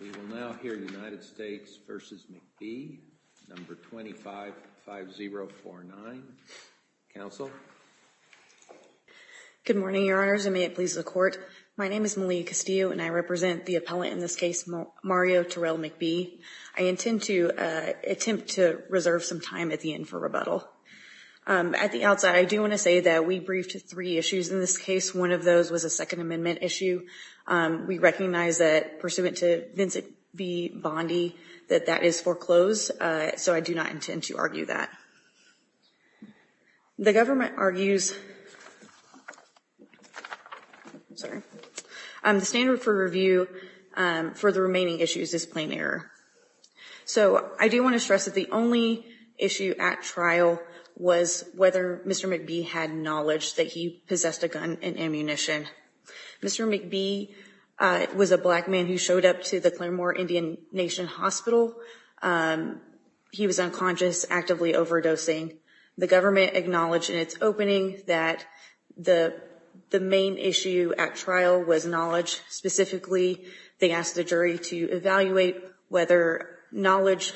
We will now hear United States v. McBee, number 255049. Counsel? Good morning, your honors, and may it please the court. My name is Malia Castillo, and I represent the appellant in this case, Mario Terrell McBee. I intend to attempt to reserve some time at the end for rebuttal. At the outset, I do want to say that we briefed three issues in this case. One of those was a Second Amendment issue. We recognize that, pursuant to Vincent B. Bondi, that that is foreclosed. So I do not intend to argue that. The government argues the standard for review for the remaining issues is plain error. So I do want to stress that the only issue at trial was whether Mr. McBee had knowledge that he possessed a gun and ammunition. Mr. McBee was a black man who showed up to the Claremore Indian Nation Hospital. He was unconscious, actively overdosing. The government acknowledged in its opening that the main issue at trial was knowledge. Specifically, they asked the jury to evaluate whether Mr.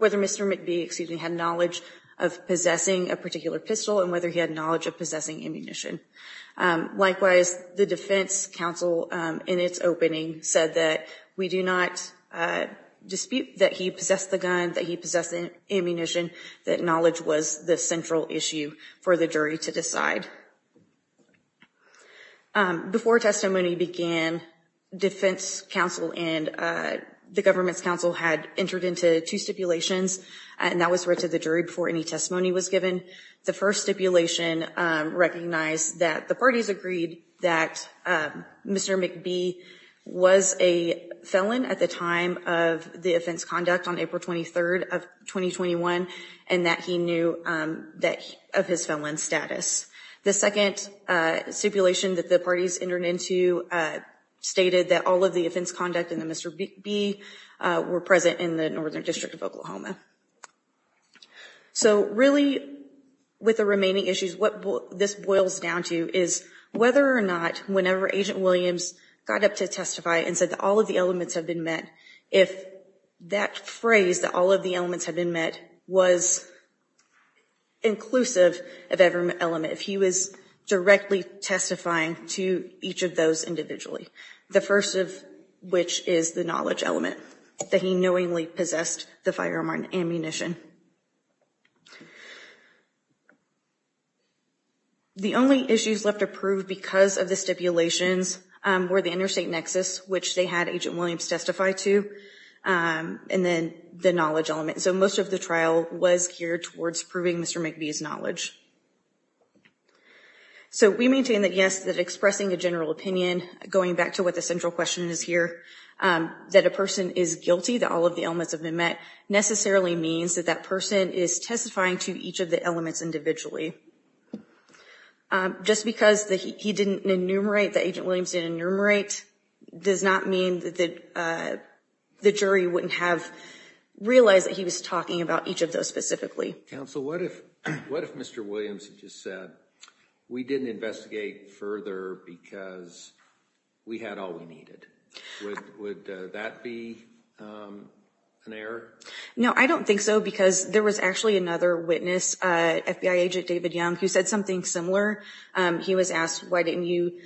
McBee had knowledge of possessing a particular pistol and whether he had knowledge of possessing ammunition. Likewise, the defense counsel, in its opening, said that we do not dispute that he possessed the gun, that he possessed the ammunition, that knowledge was the central issue for the jury to decide. Before testimony began, defense counsel and the government's counsel had entered into two stipulations. And that was read to the jury before any testimony was given. The first stipulation recognized that the parties agreed that Mr. McBee was a felon at the time of the offense conduct on April 23rd of 2021, and that he knew of his felon status. The second stipulation that the parties entered into stated that all of the offense conduct in the Mr. McBee were present in the Northern District of Oklahoma. So really, with the remaining issues, what this boils down to is whether or not whenever Agent Williams got up to testify and said that all of the elements have been met, if that phrase, that all of the elements have been met, was inclusive of every element, if he was directly testifying to each of those individually, the first of which is the knowledge element, that he knowingly possessed the firearm or ammunition. The only issues left approved because of the stipulations were the interstate nexus, which they had Agent Williams testify to, and then the knowledge element. So most of the trial was geared towards proving Mr. McBee's knowledge. So we maintain that, yes, that expressing a general opinion, going back to what the central question is here, that a person is guilty, that all of the elements have been met, necessarily means that that person is testifying to each of the elements individually. Just because he didn't enumerate, that Agent Williams didn't enumerate, does not mean that the jury wouldn't have realized that he was talking about each of those specifically. Counsel, what if Mr. Williams had just said, we didn't investigate further because we had all we needed? Would that be an error? No, I don't think so, because there was actually another witness, FBI Agent David Young, who said something similar. He was asked, why didn't you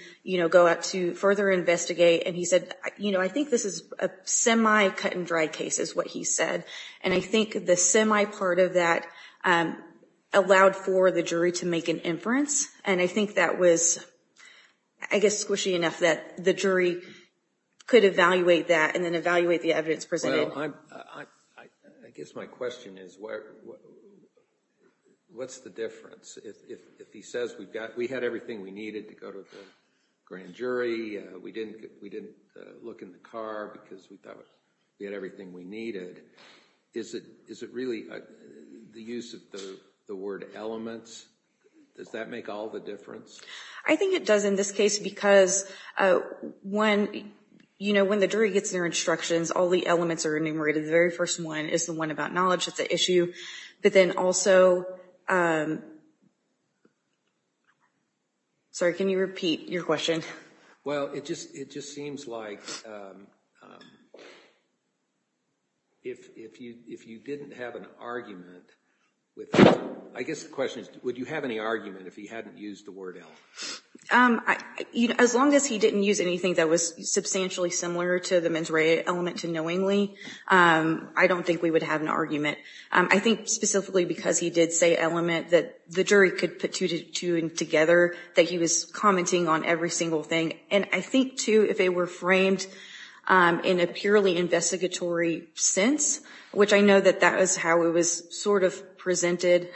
go out to further investigate? And he said, I think this is a semi cut and dry case, is what he said. And I think the semi part of that allowed for the jury to make an inference. And I think that was, I guess, squishy enough that the jury could evaluate that and then evaluate the evidence presented. I guess my question is, what's the difference? If he says, we had everything we needed to go to the grand jury, we didn't look in the car because we thought we had everything we needed, is it really the use of the word elements? Does that make all the difference? I think it does in this case, because when the jury gets their instructions, all the elements are enumerated. The very first one is the one about knowledge. It's an issue. But then also, sorry, can you repeat your question? Well, it just seems like if you didn't have an argument with, I guess the question is, would you have any argument if he hadn't used the word element? As long as he didn't use anything that was substantially similar to the mens rea element to knowingly, I don't think we would have an argument. I think specifically because he did say element, that the jury could put two and together, that he was commenting on every single thing. And I think, too, if they were framed in a purely investigatory sense, which I know that that was how it was sort of presented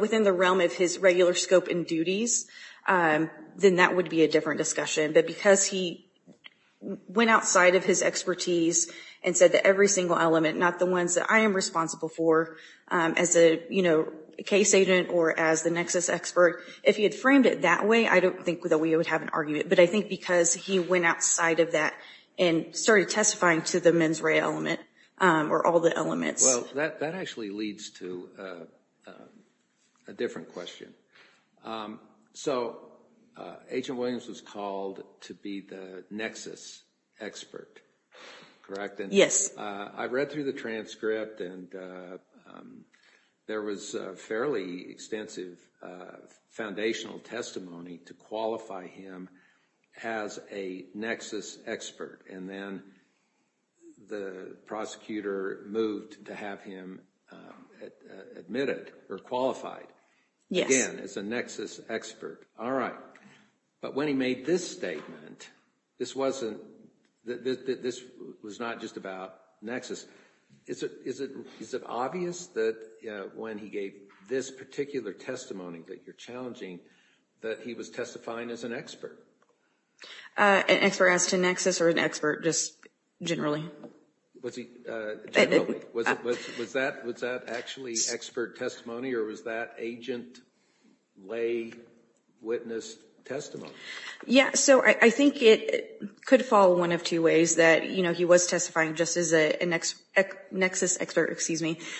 within the realm of his regular scope and duties, then that would be a different discussion. But because he went outside of his expertise and said that every single element, not the ones that I am responsible for as a case agent or as the nexus expert, if he had framed it that way, I don't think that we would have an argument. But I think because he went outside of that and started testifying to the mens rea element or all the elements. Well, that actually leads to a different question. So Agent Williams was called to be the nexus expert, correct? Yes. I read through the transcript, and there was a fairly extensive foundational testimony to qualify him as a nexus expert. And then the prosecutor moved to have him admitted or qualified again as a nexus expert. All right. But when he made this statement, this was not just about nexus. Is it obvious that when he gave this particular testimony that you're challenging that he was testifying as an expert? An expert as to nexus or an expert, just generally? Was he generally? Was that actually expert testimony, or was that agent lay witness testimony? Yeah, so I think it could fall one of two ways, that he was testifying just as a nexus expert.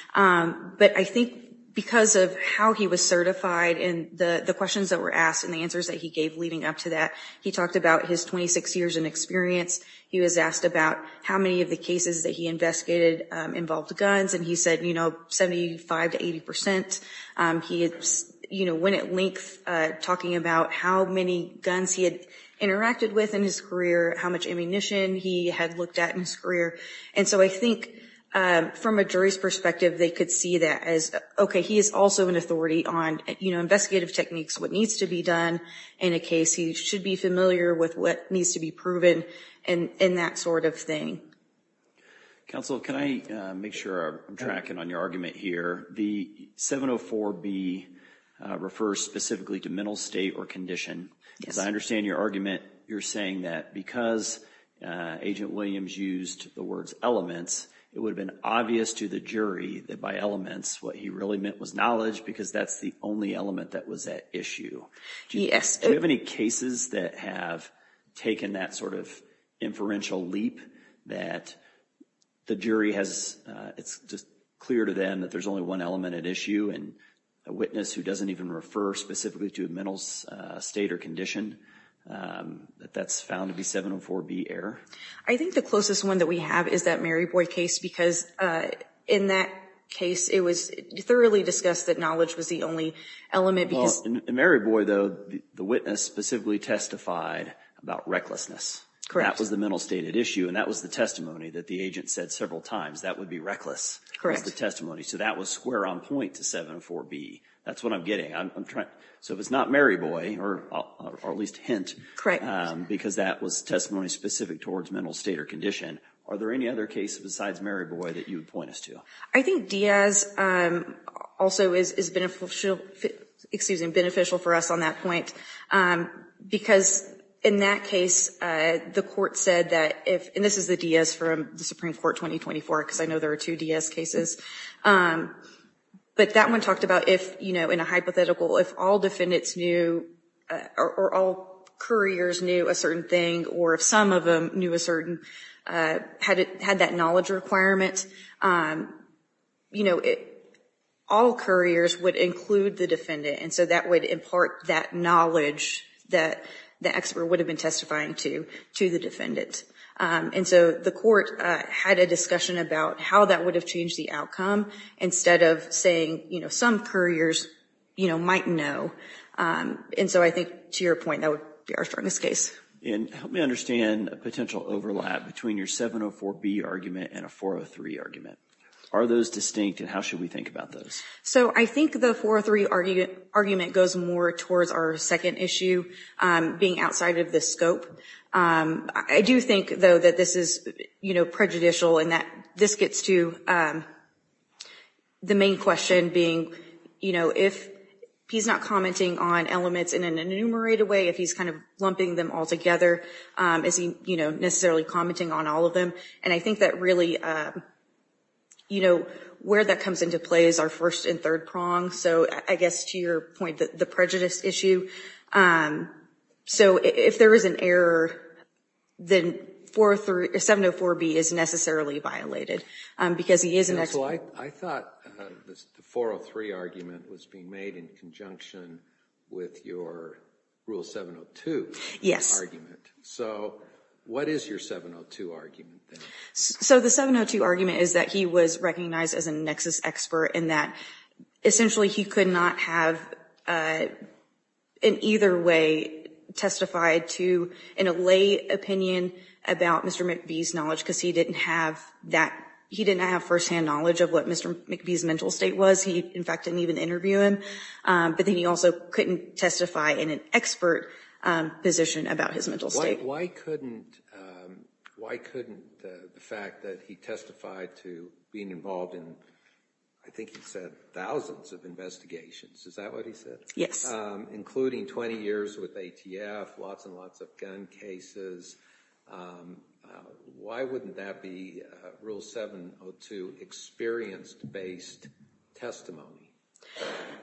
But I think because of how he was certified and the questions that were asked and the answers that he gave leading up to that, he talked about his 26 years in experience. He was asked about how many of the cases that he investigated involved guns, and he said 75% to 80%. He went at length talking about how many guns he had interacted with in his career, how much ammunition he had looked at in his career. And so I think from a jury's perspective, they could see that as, OK, he is also an authority on investigative techniques, what needs to be done in a case. He should be familiar with what needs to be proven and that sort of thing. Counsel, can I make sure I'm tracking on your argument here? The 704B refers specifically to mental state or condition. As I understand your argument, you're saying that because Agent Williams used the words elements, it would have been obvious to the jury that by elements, what he really meant was knowledge, because that's the only element that was at issue. Yes. Do you have any cases that have taken that sort of inferential leap that the jury has, it's just clear to them that there's only one element at issue, and a witness who doesn't even refer specifically to a mental state or condition, that that's found to be 704B error? I think the closest one that we have is that Mary Boy case, because in that case, it was thoroughly discussed that knowledge was the only element, because- In Mary Boy, though, the witness specifically testified about recklessness. Correct. That was the mental state at issue, and that was the testimony that the agent said several times, that would be reckless. Correct. That was the testimony. So that was square on point to 704B. That's what I'm getting. So if it's not Mary Boy, or at least hint, because that was testimony specific towards mental state or condition, are there any other cases besides Mary Boy that you would point us to? I think Diaz also is beneficial for us on that point, because in that case, the court said that if- and this is the Diaz from the Supreme Court 2024, because I know there are two Diaz cases. But that one talked about if, in a hypothetical, if all defendants knew, or all couriers knew a certain thing, or if some of them knew a certain- had that knowledge requirement, all couriers would include the defendant. And so that would impart that knowledge that the expert would have been testifying to the defendant. And so the court had a discussion about how that would have changed the outcome, instead of saying some couriers might know. And so I think, to your point, that would be our strongest case. And help me understand a potential overlap between your 704B argument and a 403 argument. Are those distinct, and how should we think about those? So I think the 403 argument goes more towards our second issue, being outside of the scope. I do think, though, that this is prejudicial, and that this gets to the main question, being if he's not commenting on elements in an enumerated way, if he's kind of lumping them all together, is he necessarily commenting on all of them? And I think that really, where that comes into play is our first and third prong. So I guess, to your point, the prejudice issue. So if there is an error, then 704B is necessarily violated, because he is an expert. I thought the 403 argument was being made in conjunction with your rule 702 argument. So what is your 702 argument, then? So the 702 argument is that he was recognized as a nexus expert, and that essentially, he could not have, in either way, testified to an allay opinion about Mr. McBee's knowledge, because he didn't have firsthand knowledge of what Mr. McBee's mental state was. He, in fact, didn't even interview him. But then he also couldn't testify in an expert position about his mental state. Why couldn't the fact that he testified to being involved in, I think you said, thousands of investigations. Is that what he said? Yes. Including 20 years with ATF, lots and lots of gun cases. Why wouldn't that be rule 702 experienced-based testimony?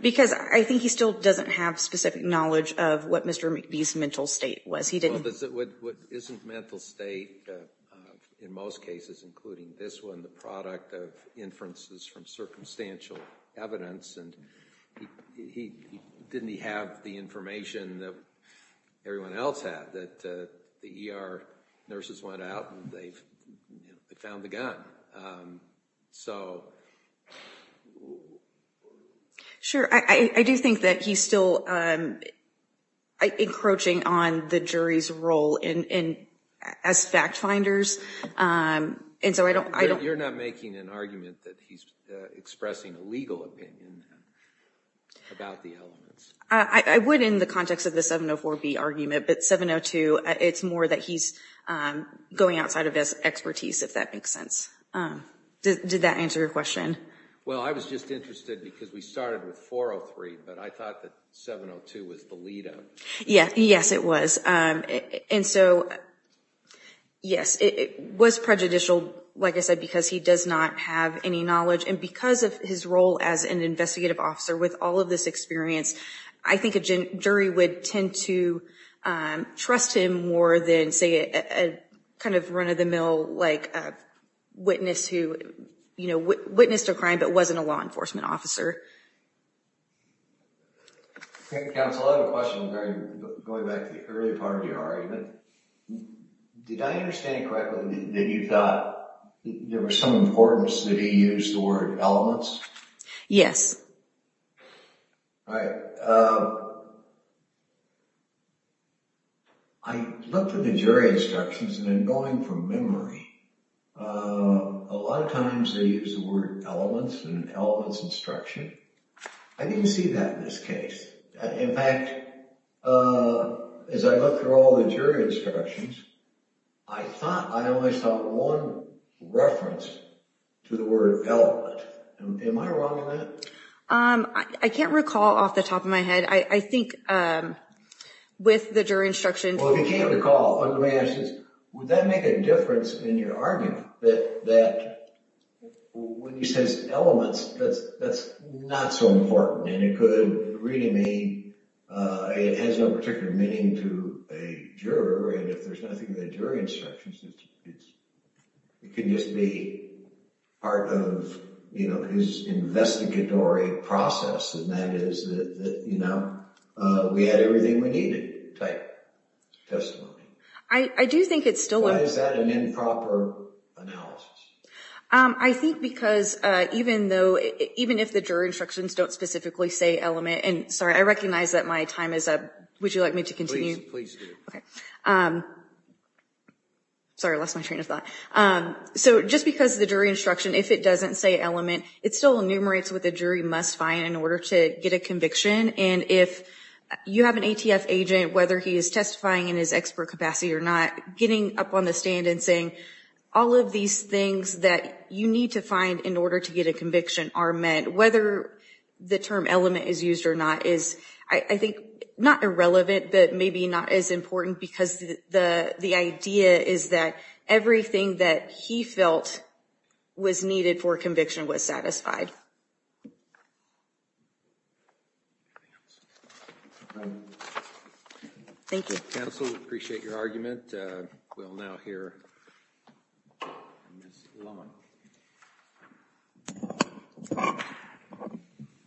Because I think he still doesn't have specific knowledge of what Mr. McBee's mental state was. He didn't. Isn't mental state, in most cases, including this one, the product of inferences from circumstantial evidence? And didn't he have the information that everyone else had, that the ER nurses went out and they found the gun? Sure, I do think that he's still encroaching on the jury's role as fact finders. And so I don't. You're not making an argument that he's expressing a legal opinion about the elements. I would in the context of the 704B argument. But 702, it's more that he's going outside of his expertise, if that makes sense. Did that answer your question? Well, I was just interested because we started with 403. But I thought that 702 was the lead up. Yes, it was. And so, yes, it was prejudicial. Like I said, because he does not have any knowledge. And because of his role as an investigative officer with all of this experience, I think a jury would tend to trust him more than, say, a kind of run of the mill witness who witnessed a crime but wasn't a law enforcement officer. Counsel, I have a question going back to the earlier part of your argument. Did I understand correctly that you thought there was some importance that he used the word elements? Yes. All right. I looked at the jury instructions and in going from memory, a lot of times they use the word elements and elements instruction. I didn't see that in this case. In fact, as I looked through all the jury instructions, I thought I only saw one reference to the word element. Am I wrong in that? I can't recall off the top of my head. I think with the jury instructions. Well, if you can't recall, under my asses, would that make a difference in your argument that when he says elements, that's not so important and it could really mean it has no particular meaning to a juror and if there's nothing in the jury instructions, it could just be part of his investigatory process and that is that we had everything we needed type testimony. I do think it's still a- Why is that an improper analysis? I think because even if the jury instructions don't specifically say element, and sorry, I recognize that my time is up. Would you like me to continue? Please do. OK. Sorry, I lost my train of thought. So just because the jury instruction, if it doesn't say element, it still enumerates what the jury must find in order to get a conviction. And if you have an ATF agent, whether he is testifying in his expert capacity or not, getting up on the stand and saying, all of these things that you need to find in order to get a conviction are met, whether the term element is used or not is, I think, not irrelevant, but maybe not as important because the idea is that everything that he felt was needed for conviction was satisfied. Thank you. Counsel, we appreciate your argument. We'll now hear Ms. Loma.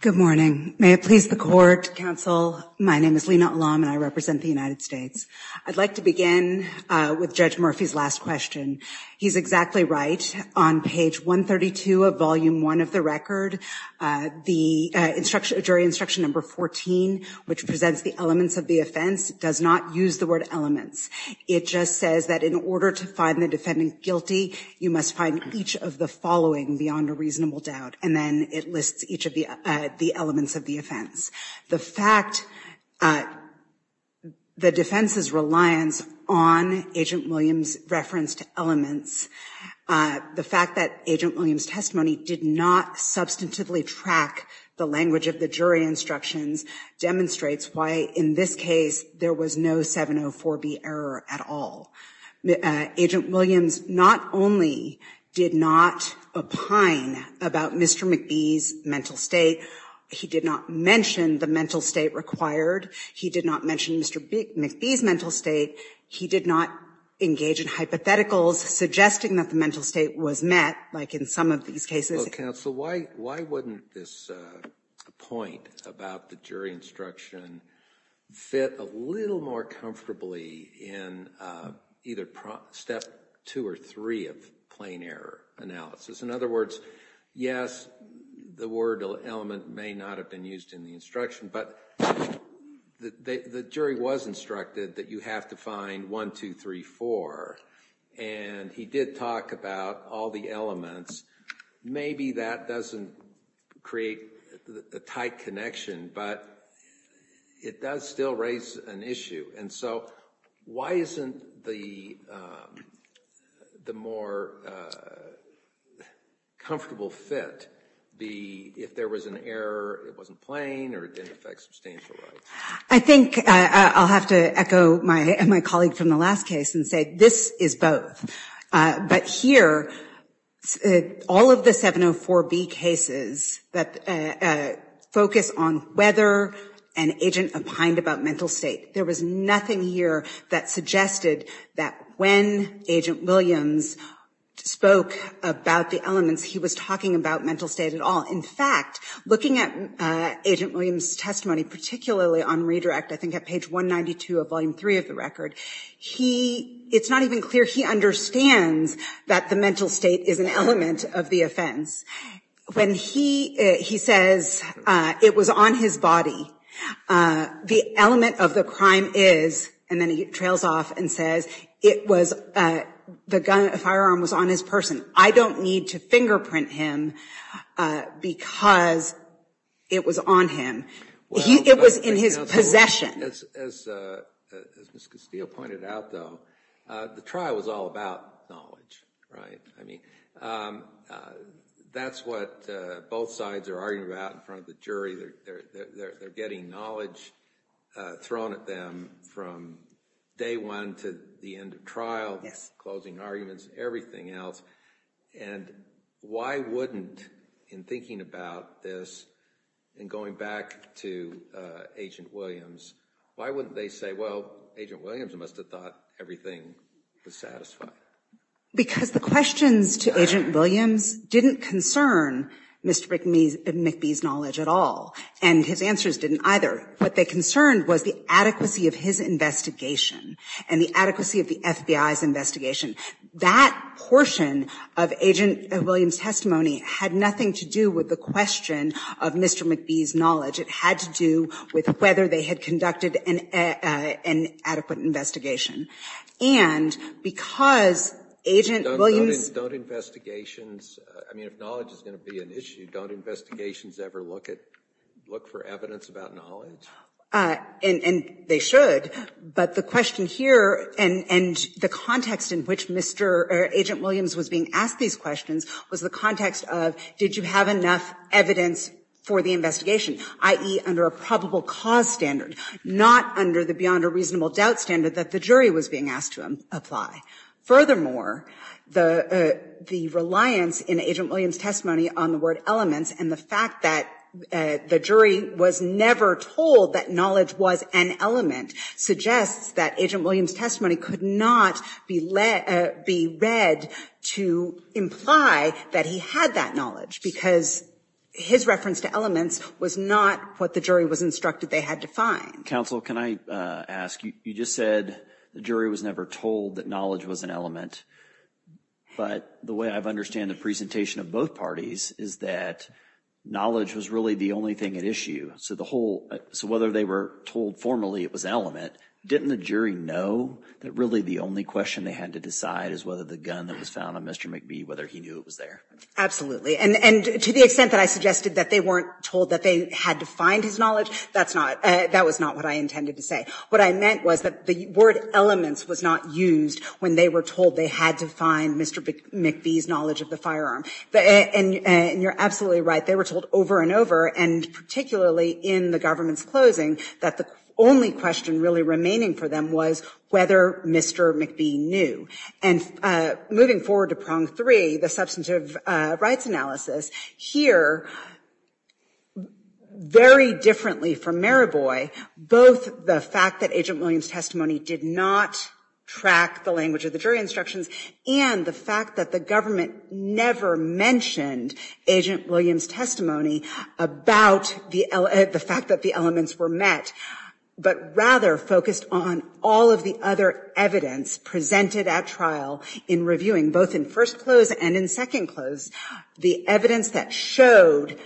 Good morning. May it please the court, counsel. My name is Lina Olam, and I represent the United States. I'd like to begin with Judge Murphy's last question. He's exactly right. On page 132 of volume one of the record, the jury instruction number 14, which presents the elements of the offense, does not use the word elements. It just says that in order to find the defendant guilty, you must find each of the following beyond a reasonable doubt. And then it lists each of the elements of the offense. The fact that the defense's reliance on Agent Williams' referenced elements, the fact that Agent Williams' testimony did not substantively track the language of the jury instructions demonstrates why, in this case, there was no 704B error at all. Agent Williams not only did not opine about Mr. McBee's mental state, he did not mention the mental state required, he did not mention Mr. McBee's mental state, he did not engage in hypotheticals suggesting that the mental state was met, like in some of these cases. Counsel, why wouldn't this point about the jury instruction fit a little more comfortably in either step two or three of plain error analysis? In other words, yes, the word element may not have been used in the instruction, but the jury was instructed that you have to find 1, 2, 3, 4. And he did talk about all the elements. Maybe that doesn't create a tight connection, but it does still raise an issue. And so why isn't the more comfortable fit be if there was an error, it wasn't plain, or it didn't affect substantial rights? I think I'll have to echo my colleague from the last case and say this is both. But here, all of the 704B cases that focus on whether an agent opined about mental state, there was nothing here that suggested that when Agent Williams spoke about the elements, he was talking about mental state at all. In fact, looking at Agent Williams' testimony, particularly on redirect, I think at page 192 of volume three of the record, it's not even clear he understands that the mental state is an element of the offense. When he says it was on his body, the element of the crime is, and then he trails off and says, the firearm was on his person. I don't need to fingerprint him because it was on him. It was in his possession. As Ms. Castillo pointed out, though, the trial was all about knowledge. That's what both sides are arguing about in front of the jury. They're getting knowledge thrown at them from day one to the end of trial, closing arguments, everything else. And why wouldn't, in thinking about this and going back to Agent Williams, why wouldn't they say, well, Agent Williams must have thought everything was satisfied? Because the questions to Agent Williams didn't concern Mr. McBee's knowledge at all, and his answers didn't either. What they concerned was the adequacy of his investigation and the adequacy of the FBI's investigation. That portion of Agent Williams' testimony had nothing to do with the question of Mr. McBee's knowledge. It had to do with whether they had conducted an adequate investigation. And because Agent Williams' Don't investigations, I mean, if knowledge is going to be an issue, don't investigations ever look for evidence about knowledge? And they should, but the question here and the context in which Agent Williams was being asked these questions was the context of, did you have enough evidence for the investigation, i.e., under a probable cause standard, not under the beyond a reasonable doubt standard that the jury was being asked to apply. Furthermore, the reliance in Agent Williams' testimony on the word elements and the fact that the jury was never told that knowledge was an element suggests that Agent Williams' testimony could not be read to imply that he had that knowledge because his reference to elements was not what the jury was instructed they had to find. Counsel, can I ask, you just said the jury was never told that knowledge was an element, but the way I understand the presentation of both parties is that knowledge was really the only thing at issue. So the whole, so whether they were told formally it was an element, didn't the jury know that really the only question they had to decide is whether the gun that was found on Mr. McBee, whether he knew it was there? Absolutely, and to the extent that I suggested that they weren't told that they had to find his knowledge, that's not, that was not what I intended to say. What I meant was that the word elements was not used when they were told they had to find Mr. McBee's knowledge of the firearm, and you're absolutely right, they were told over and over, and particularly in the government's closing that the only question really remaining for them was whether Mr. McBee knew. And moving forward to prong three, the substantive rights analysis, here, very differently from Maraboy, both the fact that Agent Williams' testimony did not track the language of the jury instructions and the fact that the government never mentioned Agent Williams' testimony about the fact that the elements were met, but rather focused on all of the other evidence presented at trial in reviewing, both in first close and in second close, the evidence that showed,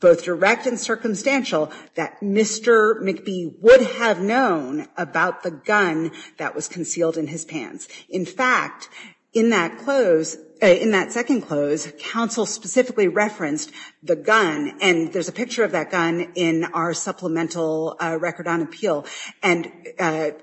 both direct and circumstantial, that Mr. McBee would have known about the gun that was concealed in his pants. In fact, in that close, in that second close, counsel specifically referenced the gun, and there's a picture of that gun in our supplemental record on appeal, and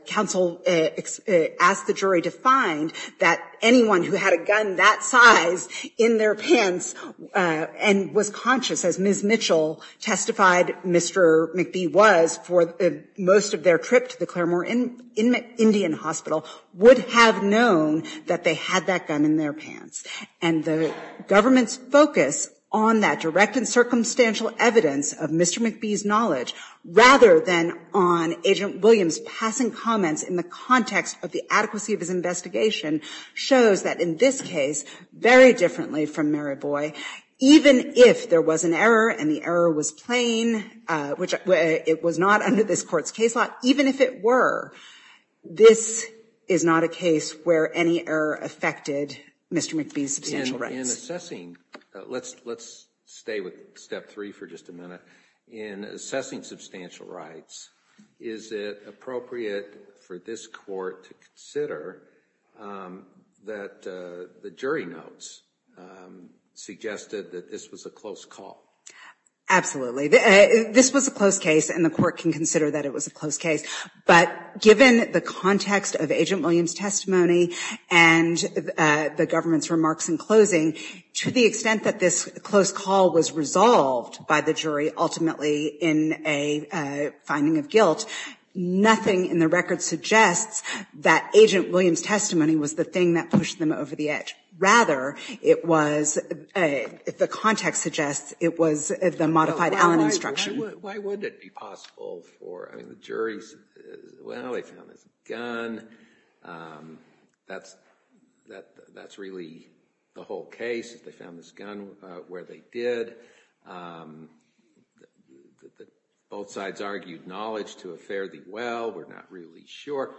counsel asked the jury to find that anyone who had a gun that size in their pants and was conscious, as Ms. Mitchell testified Mr. McBee was for most of their trip to the Claremore Indian Hospital, would have known that they had that gun in their pants. And the government's focus on that direct and circumstantial evidence of Mr. McBee's knowledge, rather than on Agent Williams' passing comments in the context of the adequacy of his investigation, shows that in this case, very differently from Mary Boy, even if there was an error and the error was plain, which it was not under this court's case law, even if it were, this is not a case where any error affected Mr. McBee's substantial rights. In assessing, let's stay with step three for just a minute. In assessing substantial rights, is it appropriate for this court to consider that the jury notes suggested that this was a close call? Absolutely, this was a close case and the court can consider that it was a close case. But given the context of Agent Williams' testimony and the government's remarks in closing, to the extent that this close call was resolved by the jury ultimately in a finding of guilt, nothing in the record suggests that Agent Williams' testimony was the thing that pushed them over the edge. Rather, it was, if the context suggests, it was the modified Allen instruction. Why would it be possible for, I mean, the jury's, well, they found this gun. That's really the whole case. They found this gun where they did. Both sides argued knowledge to a fairly well. We're not really sure.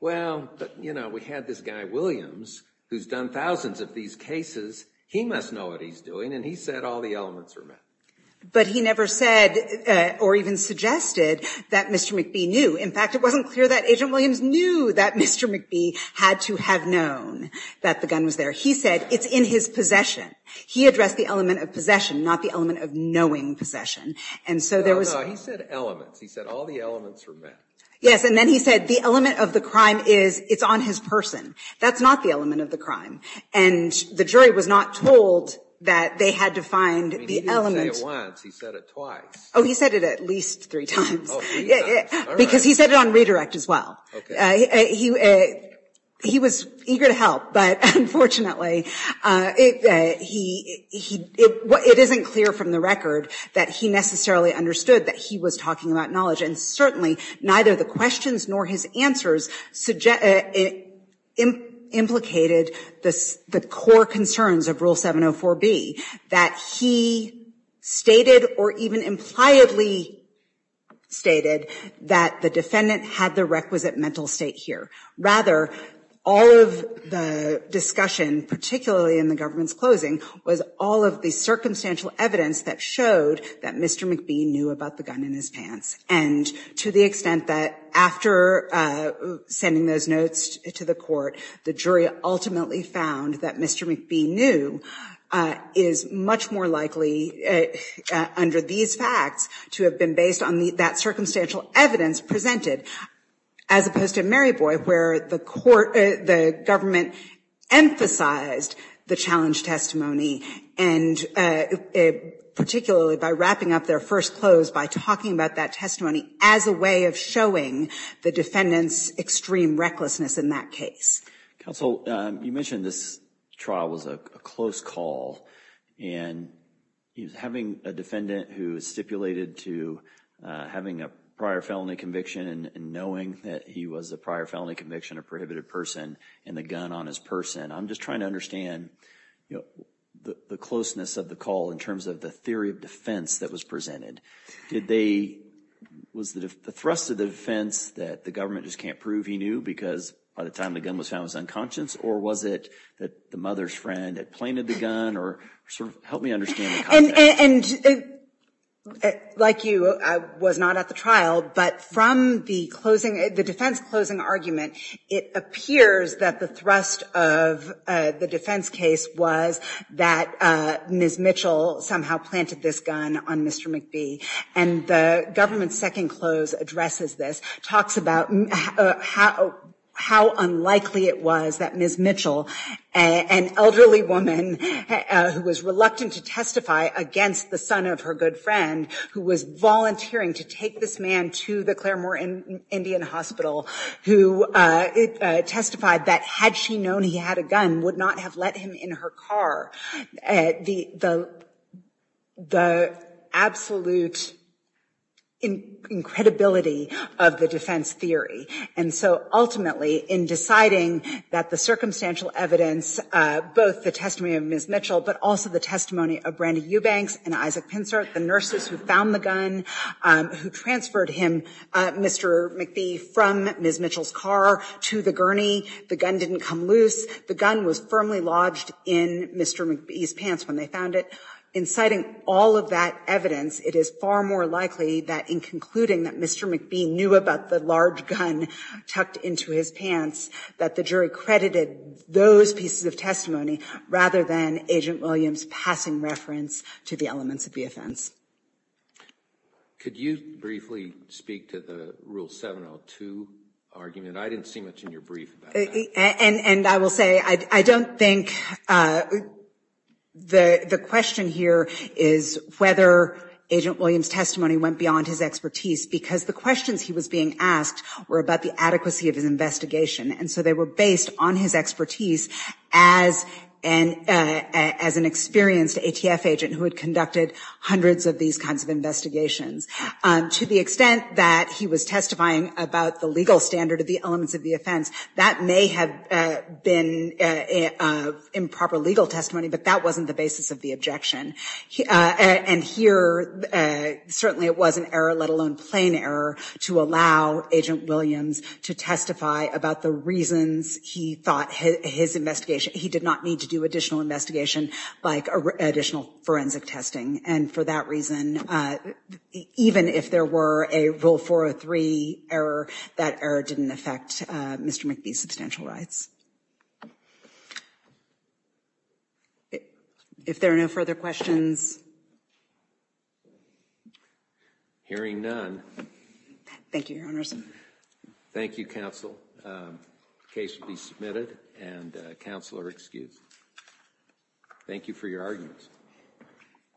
Well, but you know, we had this guy, Williams, who's done thousands of these cases. He must know what he's doing and he said all the elements are met. But he never said or even suggested that Mr. McBee knew. In fact, it wasn't clear that Agent Williams knew that Mr. McBee had to have known that the gun was there. He said it's in his possession. He addressed the element of possession, not the element of knowing possession. And so there was. No, no, he said elements. He said all the elements are met. Yes, and then he said the element of the crime is, it's on his person. That's not the element of the crime. And the jury was not told that they had to find the element. I mean, he didn't say it once, he said it twice. Oh, he said it at least three times. Oh, three times, all right. Because he said it on redirect as well. Okay. He was eager to help, but unfortunately, it isn't clear from the record that he necessarily understood that he was talking about knowledge. And certainly, neither the questions nor his answers implicated the core concerns of Rule 704B, that he stated or even impliedly stated that the defendant had the requisite mental state here. Rather, all of the discussion, particularly in the government's closing, was all of the circumstantial evidence that showed that Mr. McBee knew about the gun in his pants. And to the extent that after sending those notes to the court, the jury ultimately found that Mr. McBee knew is much more likely under these facts to have been based on that circumstantial evidence presented, as opposed to Mary Boyd, where the government emphasized the challenge testimony, and particularly by wrapping up their first close by talking about that testimony as a way of showing the defendant's extreme recklessness in that case. Counsel, you mentioned this trial was a close call, and he was having a defendant who stipulated to having a prior felony conviction and knowing that he was a prior felony conviction, a prohibited person, and the gun on his person. I'm just trying to understand the closeness of the call in terms of the theory of defense that was presented. Did they, was the thrust of the defense that the government just can't prove he knew because by the time the gun was found, it was unconscious, or was it that the mother's friend had planted the gun, or sort of help me understand the context. And like you, I was not at the trial, but from the defense closing argument, it appears that the thrust of the defense case was that Ms. Mitchell somehow planted this gun on Mr. McBee, and the government's second close addresses this, talks about how unlikely it was that Ms. Mitchell, an elderly woman who was reluctant to testify against the son of her good friend, who was volunteering to take this man to the Claremore Indian Hospital, who testified that had she known he had a gun, would not have let him in her car. The absolute incredibility of the defense theory. And so ultimately, in deciding that the circumstantial evidence, both the testimony of Ms. Mitchell, but also the testimony of Brandy Eubanks and Isaac Pinser, the nurses who found the gun, who transferred him, Mr. McBee, from Ms. Mitchell's car to the gurney, the gun didn't come loose, the gun was firmly lodged in Mr. McBee's pants when they found it. In citing all of that evidence, it is far more likely that in concluding that Mr. McBee knew about the large gun tucked into his pants, that the jury credited those pieces of testimony rather than Agent Williams passing reference to the elements of the offense. Could you briefly speak to the Rule 702 argument? I didn't see much in your brief about that. And I will say, I don't think the question here is whether Agent Williams' testimony went beyond his expertise, because the questions he was being asked were about the adequacy of his investigation, and so they were based on his expertise as an experienced ATF agent who had conducted hundreds of these kinds of investigations. To the extent that he was testifying about the legal standard of the elements of the offense, that may have been improper legal testimony, but that wasn't the basis of the objection. And here, certainly it was an error, let alone plain error, to allow Agent Williams to testify about the reasons he thought his investigation, he did not need to do additional investigation like additional forensic testing. And for that reason, even if there were a Rule 403 error, that error didn't affect Mr. McBee's substantial rights. If there are no further questions. Hearing none. Thank you, Your Honors. Thank you, counsel. Case will be submitted, and counsel are excused. Thank you for your arguments.